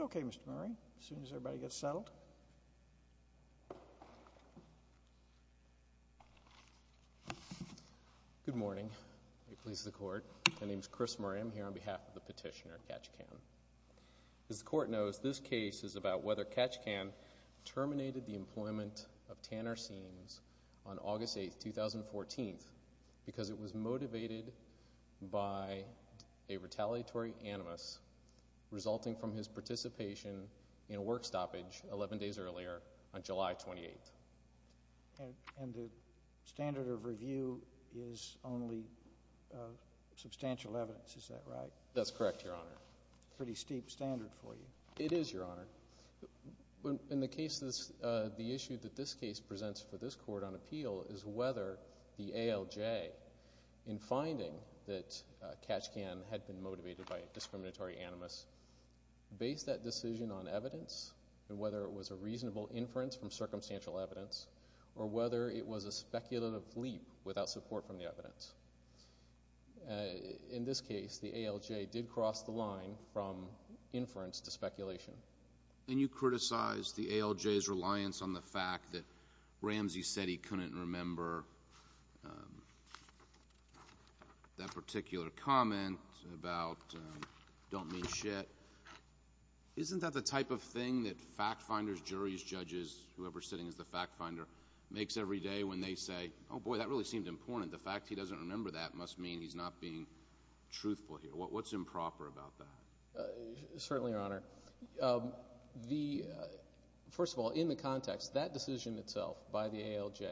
Okay, Mr. Murray, as soon as everybody gets settled. Good morning. It pleases the Court. My name is Chris Murray. I'm here on behalf of the petitioner, Katch Kan. As the Court knows, this case is about whether Katch Kan terminated the employment of Tanner Seams on August 8, 2014, because it was motivated by a retaliatory animus resulting from his participation in a work stoppage 11 days earlier on July 28. And the standard of review is only substantial evidence, is that right? That's correct, Your Honor. Pretty steep standard for you. It is, Your Honor. In the case, the issue that this case presents for this Court on appeal is whether the ALJ, in finding that Katch Kan had been motivated by a discriminatory animus, based that decision on evidence, and whether it was a reasonable inference from circumstantial evidence, or whether it was a speculative leap without support from the evidence. In this case, the ALJ did cross the line from inference to speculation. And you criticize the ALJ's reliance on the fact that Ramsey said he couldn't remember that particular comment about don't mean shit. Isn't that the type of thing that fact finders, juries, judges, whoever is sitting as the fact finder, makes every day when they say, oh boy, that really seemed important. The fact he doesn't remember that must mean he's not being truthful here. What's improper about that? Certainly, Your Honor. First of all, in the context, that decision itself by the ALJ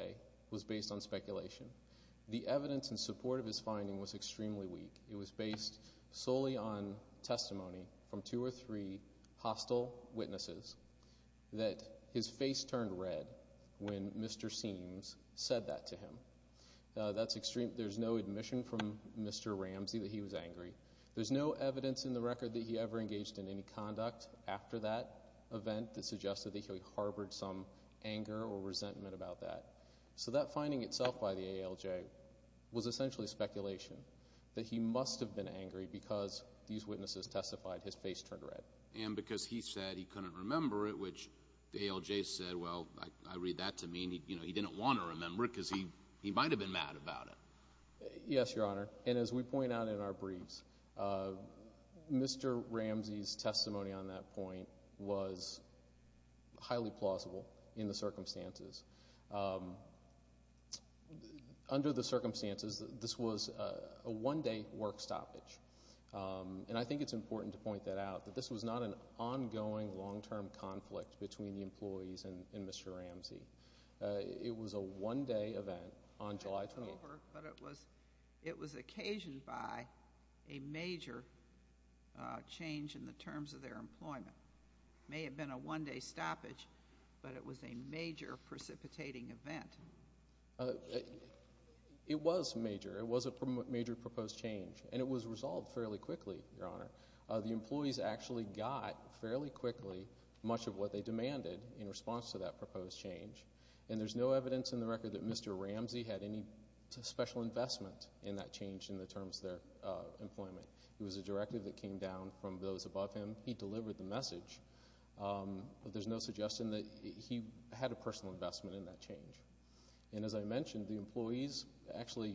was based on speculation. The evidence in support of his finding was extremely weak. It was based solely on testimony from two or three hostile witnesses that his face turned red when Mr. Seams said that to him. That's extreme. There's no admission from Mr. Ramsey that he was angry. There's no evidence in the record that he ever engaged in any conduct after that event that suggested that he harbored some anger or resentment about that. That finding itself by the ALJ was essentially speculation that he must have been angry because these witnesses testified his face turned red. Because he said he couldn't remember it, which the ALJ said, well, I read that to mean he didn't want to remember it because he might have been mad about it. Yes, Your Honor. As we point out in our briefs, Mr. Ramsey's testimony on that point was highly plausible in the circumstances. Under the circumstances, this was a one-day work stoppage. And I think it's important to point that out, that this was not an ongoing, long-term conflict between the employees and Mr. Ramsey. It was a one-day event on July 12th. But it was occasioned by a major change in the terms of their employment. It may have been a one-day stoppage, but it was a major precipitating event. It was major. It was a major proposed change. And it was resolved fairly quickly, Your Honor. The employees actually got fairly quickly much of what they demanded in response to that proposed change. And there's no evidence in the record that Mr. Ramsey had any special investment in that change in the terms of their employment. It was a directive that came down from those above him. He delivered the message, but there's no suggestion that he had a personal investment in that change. And as I mentioned, the employees actually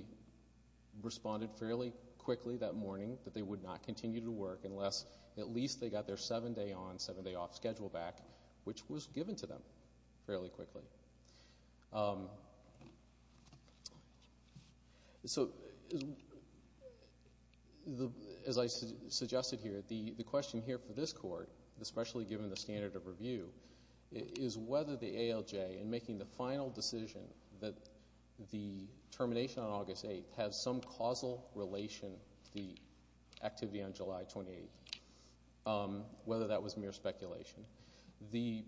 responded fairly quickly that morning that they would not continue to work unless at least they got their seven-day on, seven-day off schedule back, which was given to them fairly quickly. So, as I suggested here, the question here for this Court, especially given the standard of review, is whether the ALJ, in making the final decision that the termination on August 8th has some causal relation to the activity on July 28th, whether that was mere speculation. The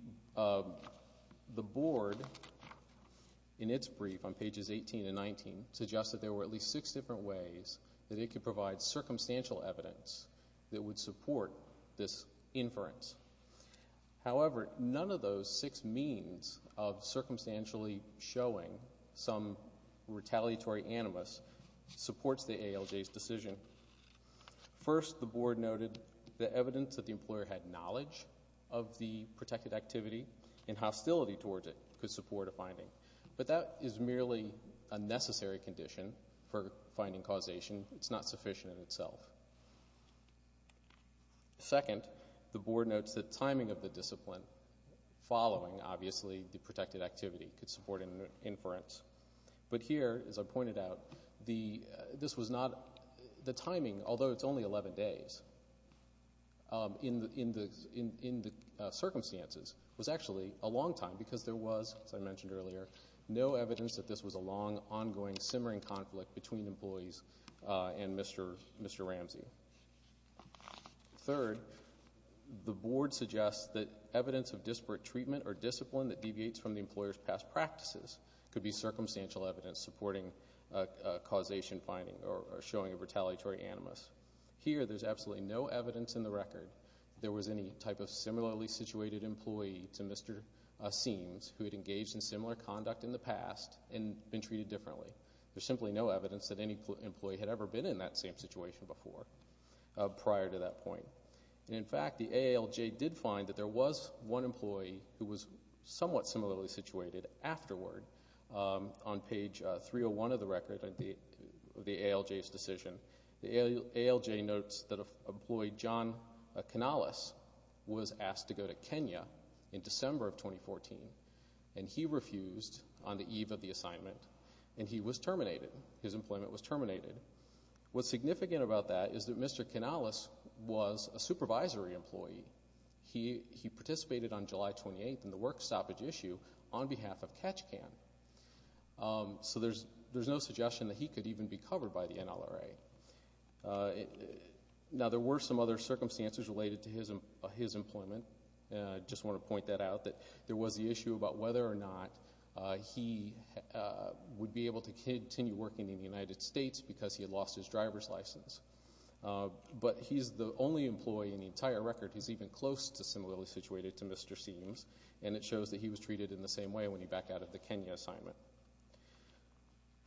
Board, in its brief on pages 18 and 19, suggested there were at least six different ways that it could provide circumstantial evidence that would support this inference. However, none of those six means of circumstantially showing some retaliatory animus supports the ALJ's decision. First, the Board noted the evidence that the employer had knowledge of the protected activity and hostility towards it could support a finding. But that is merely a necessary condition for finding causation. It's not sufficient in itself. Second, the Board notes that timing of the discipline following, obviously, the protected activity could support an inference. But here, as I pointed out, the timing, although it's only 11 days, in the circumstances was actually a long time because there was, as I mentioned earlier, no evidence that this was a long, ongoing, simmering conflict between employees and Mr. Ramsey. Third, the Board suggests that evidence of disparate treatment or discipline that deviates from the employer's past practices could be circumstantial evidence supporting causation finding or showing a retaliatory animus. Here, there's absolutely no evidence in the record there was any type of similarly situated employee to Mr. Seams who had engaged in similar conduct in the past and been treated differently. There's simply no evidence that any employee had ever been in that same situation before, prior to that point. In fact, the ALJ did find that there was one employee who was somewhat similarly situated afterward on page 301 of the record of the ALJ's decision. The ALJ notes that employee John Canales was asked to go to Kenya in December of 2014, and he refused on the eve of the assignment, and he was terminated. His employment was terminated. What's significant about that is that Mr. Canales was a supervisory employee. He participated on July 28th in the work stoppage issue on behalf of Catch Can. So there's no suggestion that he could even be covered by the NLRA. Now, there were some other circumstances related to his employment, and I just want to point that out, that there was the issue about whether or not he would be able to continue working in the United States because he had lost his driver's license. But he's the only employee in the entire record who's even close to similarly situated to Mr. Seames, and it shows that he was treated in the same way when he backed out of the Kenya assignment.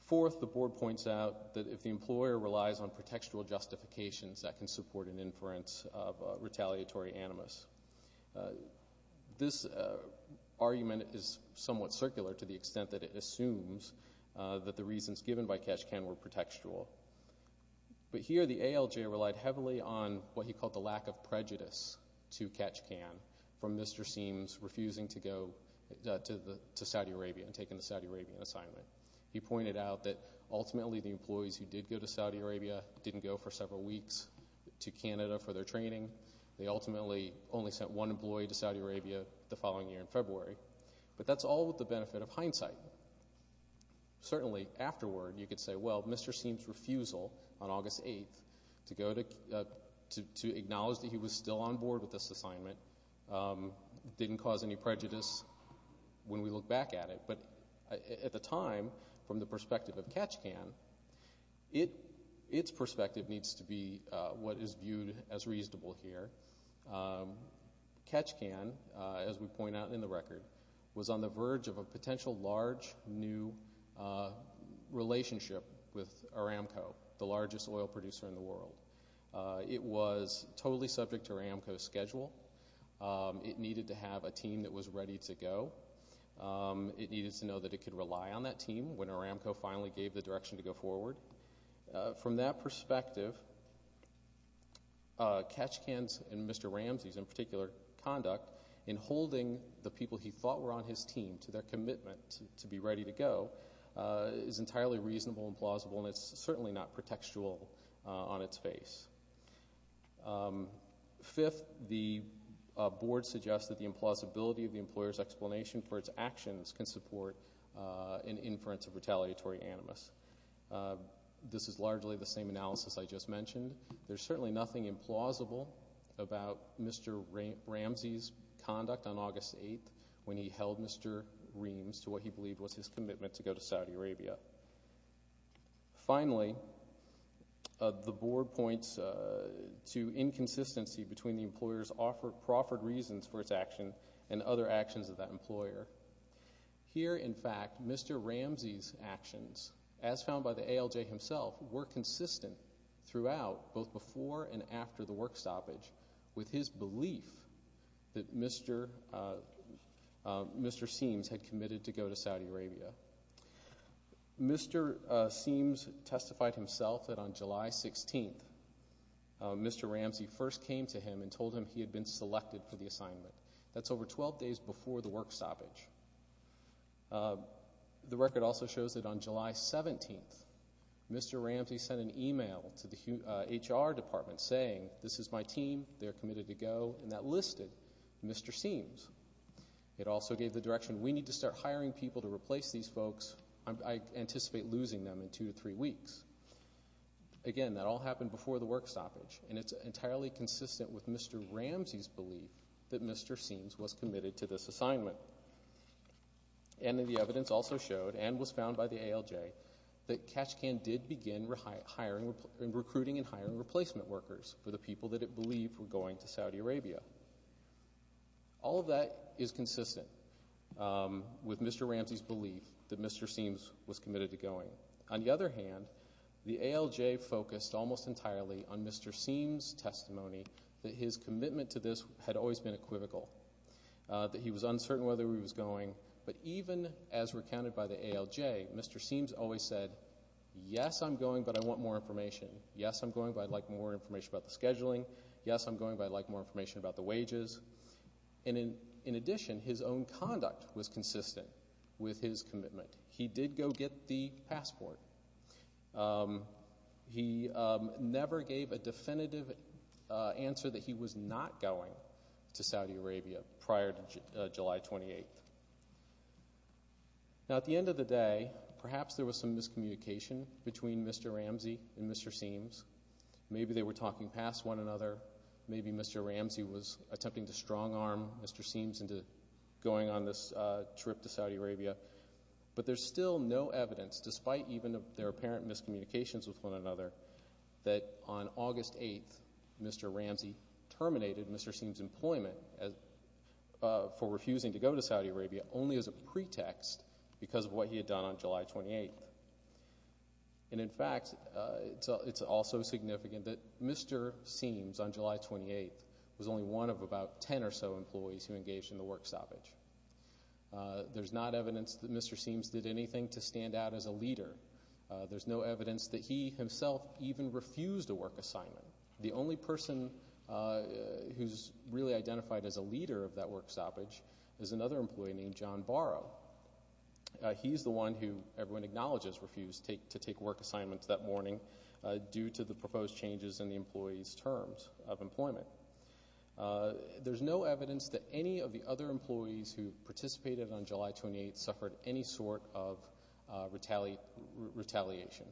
Fourth, the board points out that if the employer relies on pretextual justifications, that can support an inference of retaliatory animus. This argument is somewhat circular to the extent that it assumes that the reasons given by Catch Can were pretextual. But here the ALJ relied heavily on what he called the lack of prejudice to Catch Can from Mr. Seames refusing to go to Saudi Arabia and taking the Saudi Arabian assignment. He pointed out that ultimately the employees who did go to Saudi Arabia didn't go for several weeks to Canada for their training. They ultimately only sent one employee to Saudi Arabia the following year in February. But that's all with the benefit of hindsight. Certainly, afterward, you could say, well, Mr. Seames' refusal on August 8th to acknowledge that he was still on board with this assignment didn't cause any prejudice when we look back at it. But at the time, from the perspective of Catch Can, its perspective needs to be what is viewed as reasonable here. Catch Can, as we point out in the record, was on the verge of a potential large new relationship with Aramco, the largest oil producer in the world. It was totally subject to Aramco's schedule. It needed to have a team that was ready to go. It needed to know that it could rely on that team when Aramco finally gave the direction to go forward. From that perspective, Catch Can's and Mr. Ramsey's, in particular, conduct in holding the people he thought were on his team to their commitment to be ready to go is entirely reasonable and plausible, and it's certainly not pretextual on its face. Fifth, the board suggests that the implausibility of the employer's explanation for its actions can support an inference of retaliatory animus. This is largely the same analysis I just mentioned. There's certainly nothing implausible about Mr. Ramsey's conduct on August 8th when he held Mr. Reams to what he believed was his commitment to go to Saudi Arabia. Finally, the board points to inconsistency between the employer's proffered reasons for its action and other actions of that employer. Here, in fact, Mr. Ramsey's actions, as found by the ALJ himself, were consistent throughout both before and after the work stoppage with his belief that Mr. Seams had committed to go to Saudi Arabia. Mr. Seams testified himself that on July 16th, Mr. Ramsey first came to him and told him he had been selected for the assignment. That's over 12 days before the work stoppage. The record also shows that on July 17th, Mr. Ramsey sent an email to the HR department saying, this is my team, they're committed to go, and that listed Mr. Seams. It also gave the direction, we need to start hiring people to replace these folks, I anticipate losing them in two to three weeks. Again, that all happened before the work stoppage, and it's entirely consistent with Mr. Ramsey's belief that Mr. Seams was committed to this assignment. And the evidence also showed, and was found by the ALJ, that Kachkan did begin recruiting and hiring replacement workers for the people that it believed were going to Saudi Arabia. All of that is consistent with Mr. Ramsey's belief that Mr. Seams was committed to going. On the other hand, the ALJ focused almost entirely on Mr. Seams' testimony that his commitment to this had always been equivocal, that he was uncertain whether he was going. But even as recounted by the ALJ, Mr. Seams always said, yes, I'm going, but I want more information. Yes, I'm going, but I'd like more information about the scheduling. Yes, I'm going, but I'd like more information about the wages. In addition, his own conduct was consistent with his commitment. He did go get the passport. He never gave a definitive answer that he was not going to Saudi Arabia prior to July 28th. Now, at the end of the day, perhaps there was some miscommunication between Mr. Ramsey and Mr. Seams. Maybe they were talking past one another. Maybe Mr. Ramsey was attempting to strong-arm Mr. Seams into going on this trip to Saudi Arabia. But there's still no evidence, despite even their apparent miscommunications with one another, that on August 8th, Mr. Ramsey terminated Mr. Seams' employment for refusing to go to Saudi Arabia only as a pretext because of what he had done on July 28th. And in fact, it's also significant that Mr. Seams, on July 28th, was only one of about 10 or so employees who engaged in the work salvage. There's not evidence that Mr. Seams did anything to stand out as a leader. There's no evidence that he himself even refused a work assignment. The only person who's really identified as a leader of that work salvage is another employee named John Barrow. He's the one who everyone acknowledges refused to take work assignments that morning due There's no evidence that any of the other employees who participated on July 28th suffered any sort of retaliation.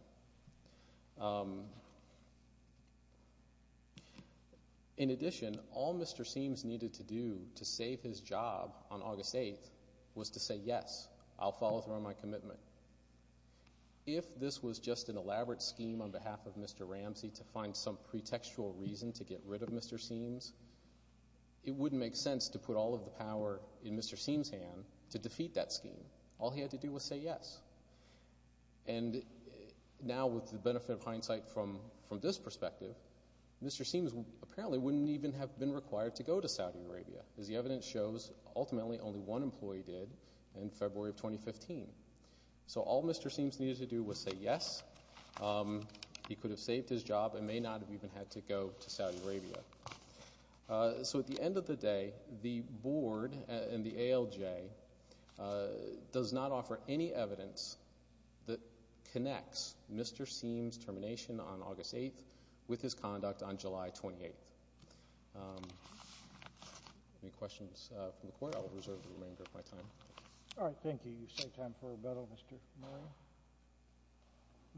In addition, all Mr. Seams needed to do to save his job on August 8th was to say, yes, I'll follow through on my commitment. If this was just an elaborate scheme on behalf of Mr. Ramsey to find some pretextual reason to get rid of Mr. Seams, it wouldn't make sense to put all of the power in Mr. Seams' hand to defeat that scheme. All he had to do was say yes. And now, with the benefit of hindsight from this perspective, Mr. Seams apparently wouldn't even have been required to go to Saudi Arabia, as the evidence shows, ultimately only one employee did in February of 2015. So all Mr. Seams needed to do was say yes. He could have saved his job and may not have even had to go to Saudi Arabia. So at the end of the day, the board and the ALJ does not offer any evidence that connects Mr. Seams' termination on August 8th with his conduct on July 28th. Any questions from the court? I will reserve the remainder of my time. All right. Thank you. You saved time for rebuttal, Mr. Murray.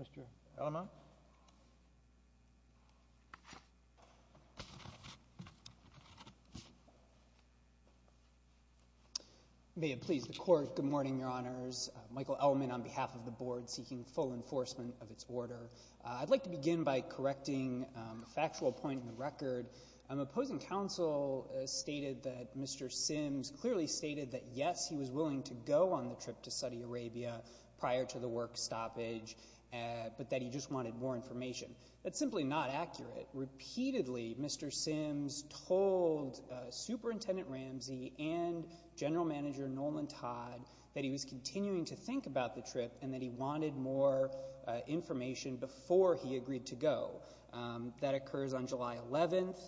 Mr. Elamont? May it please the Court, good morning, Your Honors. Michael Elamont on behalf of the board, seeking full enforcement of its order. I'd like to begin by correcting a factual point in the record. Opposing counsel stated that Mr. Seams clearly stated that yes, he was willing to go on the trip to Saudi Arabia prior to the work stoppage, but that he just wanted more information. That's simply not accurate. Repeatedly, Mr. Seams told Superintendent Ramsey and General Manager Nolan Todd that he was continuing to think about the trip and that he wanted more information before he agreed to go. That occurs on July 11th.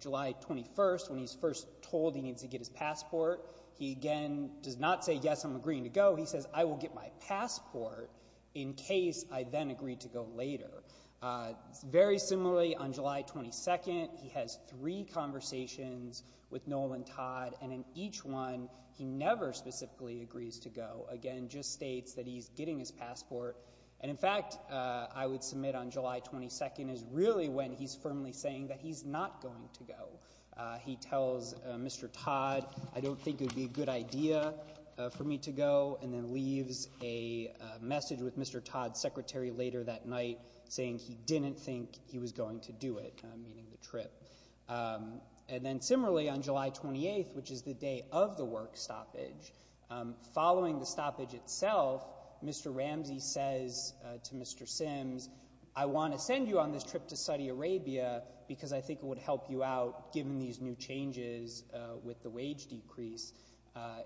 July 21st, when he's first told he needs to get his passport, he again does not say yes, I'm agreeing to go. He says, I will get my passport in case I then agree to go later. Very similarly, on July 22nd, he has three conversations with Nolan Todd, and in each one he never specifically agrees to go, again, just states that he's getting his passport. And in fact, I would submit on July 22nd is really when he's firmly saying that he's not going to go. He tells Mr. Todd, I don't think it would be a good idea for me to go, and then leaves a message with Mr. Todd's secretary later that night saying he didn't think he was going to do it, meaning the trip. And then similarly, on July 28th, which is the day of the work stoppage, following the stoppage itself, Mr. Ramsey says to Mr. Seams, I want to send you on this trip to Saudi Arabia because I think it would help you out, given these new changes with the wage decrease,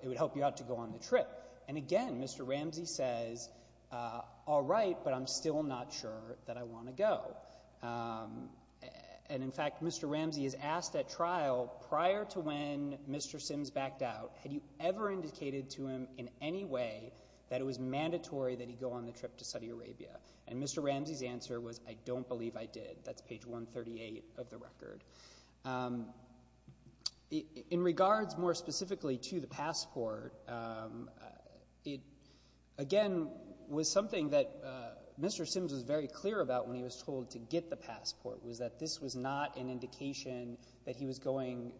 it would help you out to go on the trip. And again, Mr. Ramsey says, all right, but I'm still not sure that I want to go. And in fact, Mr. Ramsey is asked at trial, prior to when Mr. Seams backed out, had you ever indicated to him in any way that it was mandatory that he go on the trip to Saudi Arabia? And Mr. Ramsey's answer was, I don't believe I did. That's page 138 of the record. In regards more specifically to the passport, it again was something that Mr. Seams was very clear about when he was told to get the passport, was that this was not an indication that he was going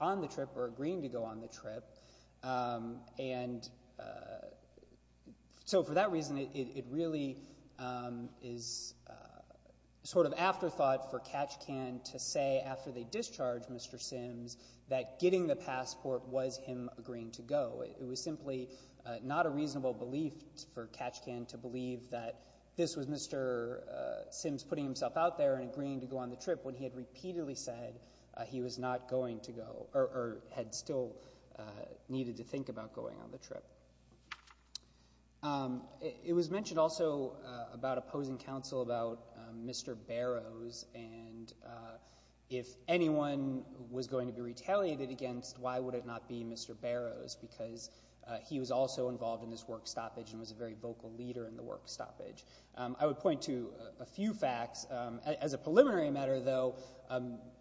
on the trip or agreeing to go on the trip. And so for that reason, it really is sort of afterthought for Katchkan to say after they discharged Mr. Seams, that getting the passport was him agreeing to go. It was simply not a reasonable belief for Katchkan to believe that this was Mr. Seams putting himself out there and agreeing to go on the trip when he had repeatedly said he was not going to go or had still needed to think about going on the trip. It was mentioned also about opposing counsel about Mr. Barrows and if anyone was going to be retaliated against, why would it not be Mr. Barrows because he was also involved in this work stoppage and was a very vocal leader in the work stoppage. I would point to a few facts. As a preliminary matter, though,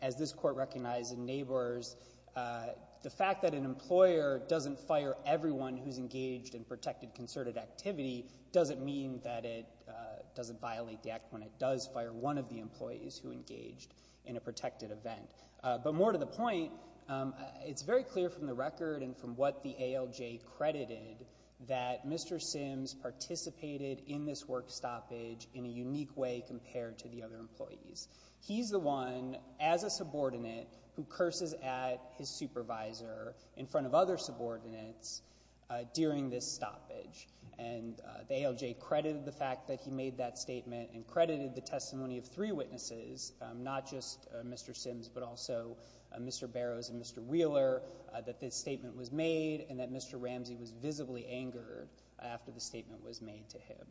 as this court recognized in Neighbors, the fact that an employer doesn't fire everyone who's engaged in protected concerted activity doesn't mean that it doesn't violate the act when it does fire one of the employees who engaged in a protected event. But more to the point, it's very clear from the record and from what the ALJ credited that Mr. Sims participated in this work stoppage in a unique way compared to the other employees. He's the one, as a subordinate, who curses at his supervisor in front of other subordinates during this stoppage and the ALJ credited the fact that he made that statement and credited the testimony of three witnesses, not just Mr. Sims but also Mr. Barrows and Mr. Wheeler, that this statement was made and that Mr. Ramsey was visibly angered after the statement was made to him.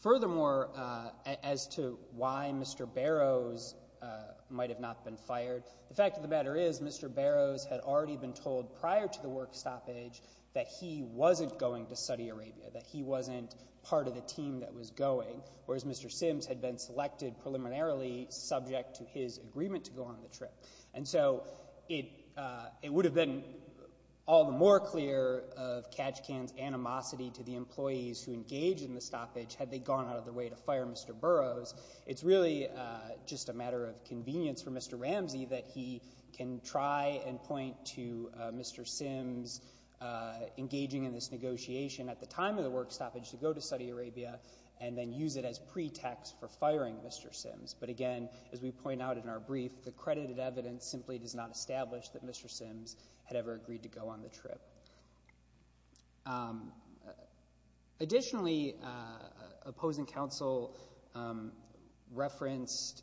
Furthermore, as to why Mr. Barrows might have not been fired, the fact of the matter is Mr. Barrows had already been told prior to the work stoppage that he wasn't going to Saudi Arabia, that he wasn't part of the team that was going, whereas Mr. Sims had been selected preliminarily subject to his agreement to go on the trip. And so it would have been all the more clear of Kajikan's animosity to the employees who engaged in the stoppage had they gone out of their way to fire Mr. Barrows. It's really just a matter of convenience for Mr. Ramsey that he can try and point to Mr. Sims engaging in this negotiation at the time of the work stoppage to go to Saudi Arabia and then use it as pretext for firing Mr. Sims. But again, as we point out in our brief, the credited evidence simply does not establish that Mr. Sims had ever agreed to go on the trip. Additionally, opposing counsel referenced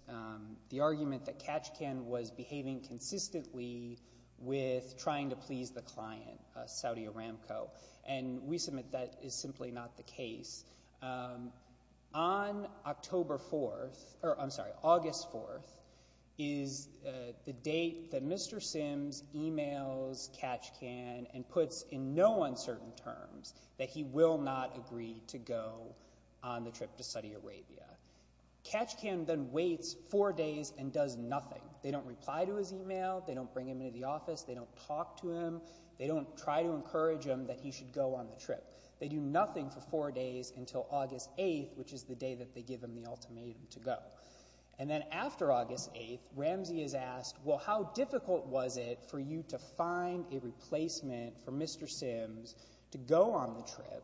the argument that Kajikan was behaving consistently with trying to please the client, Saudi Aramco, and we submit that is simply not the case. On October 4th, or I'm sorry, August 4th, is the date that Mr. Sims emails Kajikan and puts in no uncertain terms that he will not agree to go on the trip to Saudi Arabia. Kajikan then waits four days and does nothing. They don't reply to his email, they don't bring him into the office, they don't talk to him, they don't try to encourage him that he should go on the trip. They do nothing for four days until August 8th, which is the day that they give him the ultimatum to go. And then after August 8th, Ramsey is asked, well, how difficult was it for you to find a replacement for Mr. Sims to go on the trip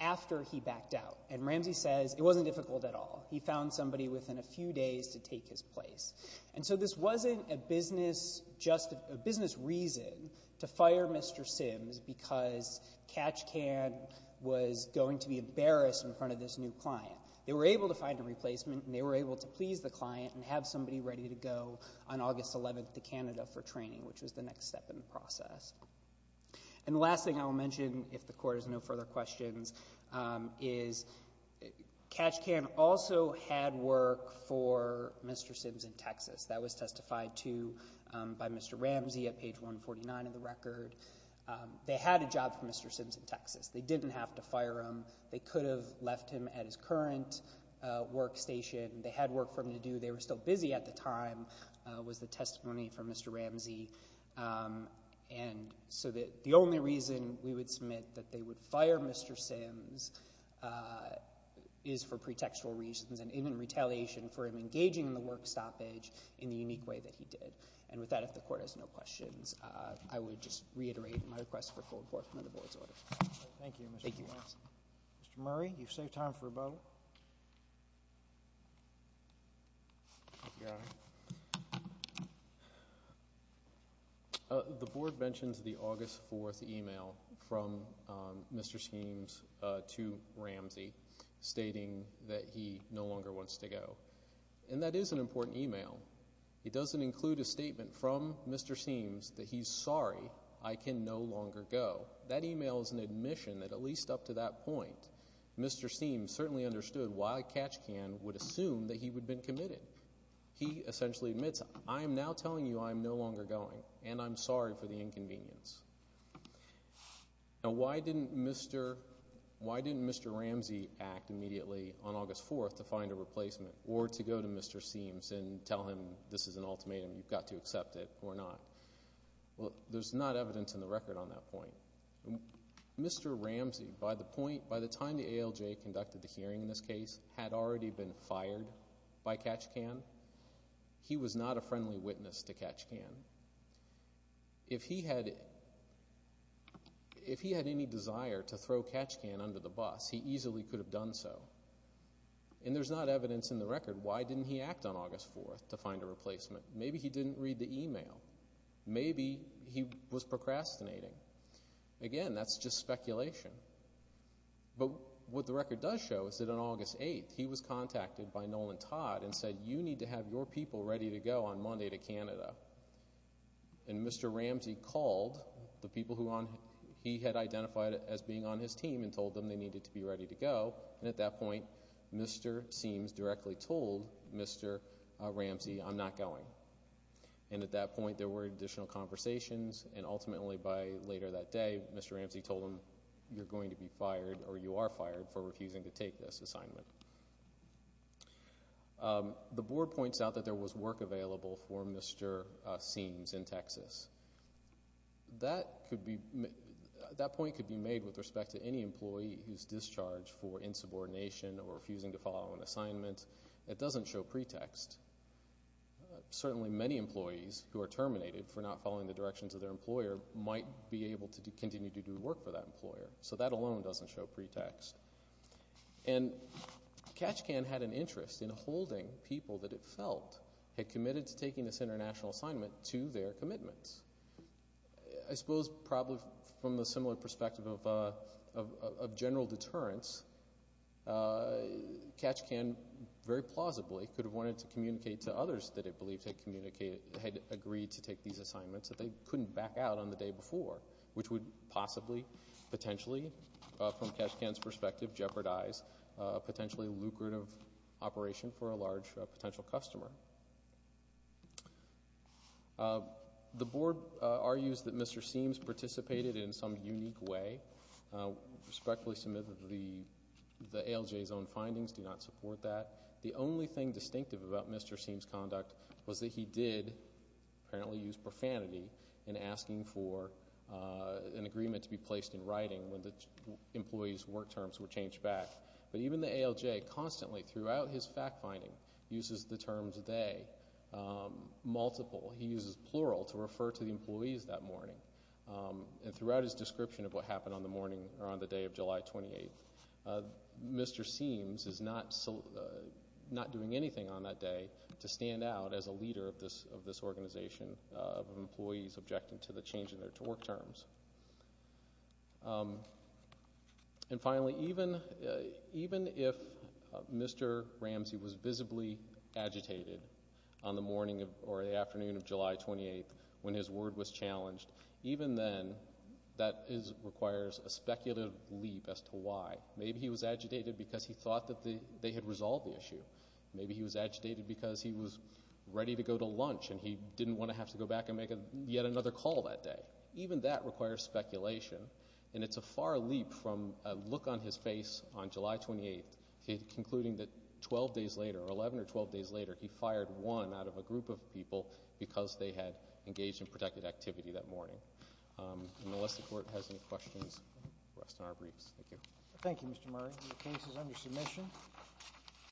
after he backed out? And Ramsey says it wasn't difficult at all. He found somebody within a few days to take his place. And so this wasn't a business reason to fire Mr. Sims because Kajikan was going to be embarrassed in front of this new client. They were able to find a replacement and they were able to please the client and have somebody ready to go on August 11th to Canada for training, which was the next step in the process. And the last thing I will mention, if the Court has no further questions, is Kajikan also had work for Mr. Sims in Texas. That was testified to by Mr. Ramsey at page 149 of the record. They had a job for Mr. Sims in Texas. They didn't have to fire him. They could have left him at his current workstation. They had work for him to do. They were still busy at the time, was the testimony from Mr. Ramsey. And so the only reason we would submit that they would fire Mr. Sims is for pretextual reasons and even retaliation for him engaging in the work stoppage in the unique way that he did. And with that, if the Court has no questions, I would just reiterate my request for a cold court under the Board's order. Thank you, Mr. Ramsey. Thank you. Thank you, Your Honor. The Board mentions the August 4th email from Mr. Sims to Ramsey stating that he no longer wants to go. And that is an important email. It doesn't include a statement from Mr. Sims that he's sorry, I can no longer go. That email is an admission that at least up to that point, Mr. Sims certainly understood why Kajikan would assume that he would have been committed. He essentially admits, I am now telling you I am no longer going, and I'm sorry for the inconvenience. Now, why didn't Mr. Ramsey act immediately on August 4th to find a replacement or to go to Mr. Sims and tell him this is an ultimatum, you've got to accept it or not? Well, there's not evidence in the record on that point. Mr. Ramsey, by the point, by the time the ALJ conducted the hearing in this case, had already been fired by Kajikan. He was not a friendly witness to Kajikan. If he had any desire to throw Kajikan under the bus, he easily could have done so. And there's not evidence in the record why didn't he act on August 4th to find a replacement. Maybe he didn't read the email. Maybe he was procrastinating. Again, that's just speculation. But what the record does show is that on August 8th, he was contacted by Nolan Todd and said, you need to have your people ready to go on Monday to Canada. And Mr. Ramsey called the people who he had identified as being on his team and told them they needed to be ready to go, and at that point, Mr. Sims directly told Mr. Ramsey I'm not going. And at that point, there were additional conversations, and ultimately by later that day, Mr. Ramsey told him you're going to be fired or you are fired for refusing to take this assignment. The board points out that there was work available for Mr. Sims in Texas. That point could be made with respect to any employee who's discharged for insubordination or refusing to follow an assignment. It doesn't show pretext. Certainly many employees who are terminated for not following the directions of their employer. So that alone doesn't show pretext. And Catch Can had an interest in holding people that it felt had committed to taking this international assignment to their commitments. I suppose probably from a similar perspective of general deterrence, Catch Can very plausibly could have wanted to communicate to others that it believed had agreed to take these potentially, from Catch Can's perspective, jeopardize a potentially lucrative operation for a large potential customer. The board argues that Mr. Sims participated in some unique way. Respectfully submit that the ALJ's own findings do not support that. The only thing distinctive about Mr. Sims' conduct was that he did apparently use profanity in asking for an agreement to be placed in writing when the employees' work terms were changed back. But even the ALJ constantly, throughout his fact-finding, uses the terms they, multiple. He uses plural to refer to the employees that morning. And throughout his description of what happened on the morning, or on the day of July 28th, Mr. Sims is not doing anything on that day to stand out as a leader of this organization of employees objecting to the change in their work terms. And finally, even if Mr. Ramsey was visibly agitated on the morning or the afternoon of July 28th when his word was challenged, even then, that requires a speculative leap as to why. Maybe he was agitated because he thought that they had resolved the issue. Maybe he was agitated because he was ready to go to lunch and he didn't want to have to go back and make yet another call that day. Even that requires speculation. And it's a far leap from a look on his face on July 28th, concluding that 12 days later, or 11 or 12 days later, he fired one out of a group of people because they had engaged in protected activity that morning. And unless the Court has any questions, the rest of our briefs. Thank you. Thank you, Mr. Murray. The case is under submission.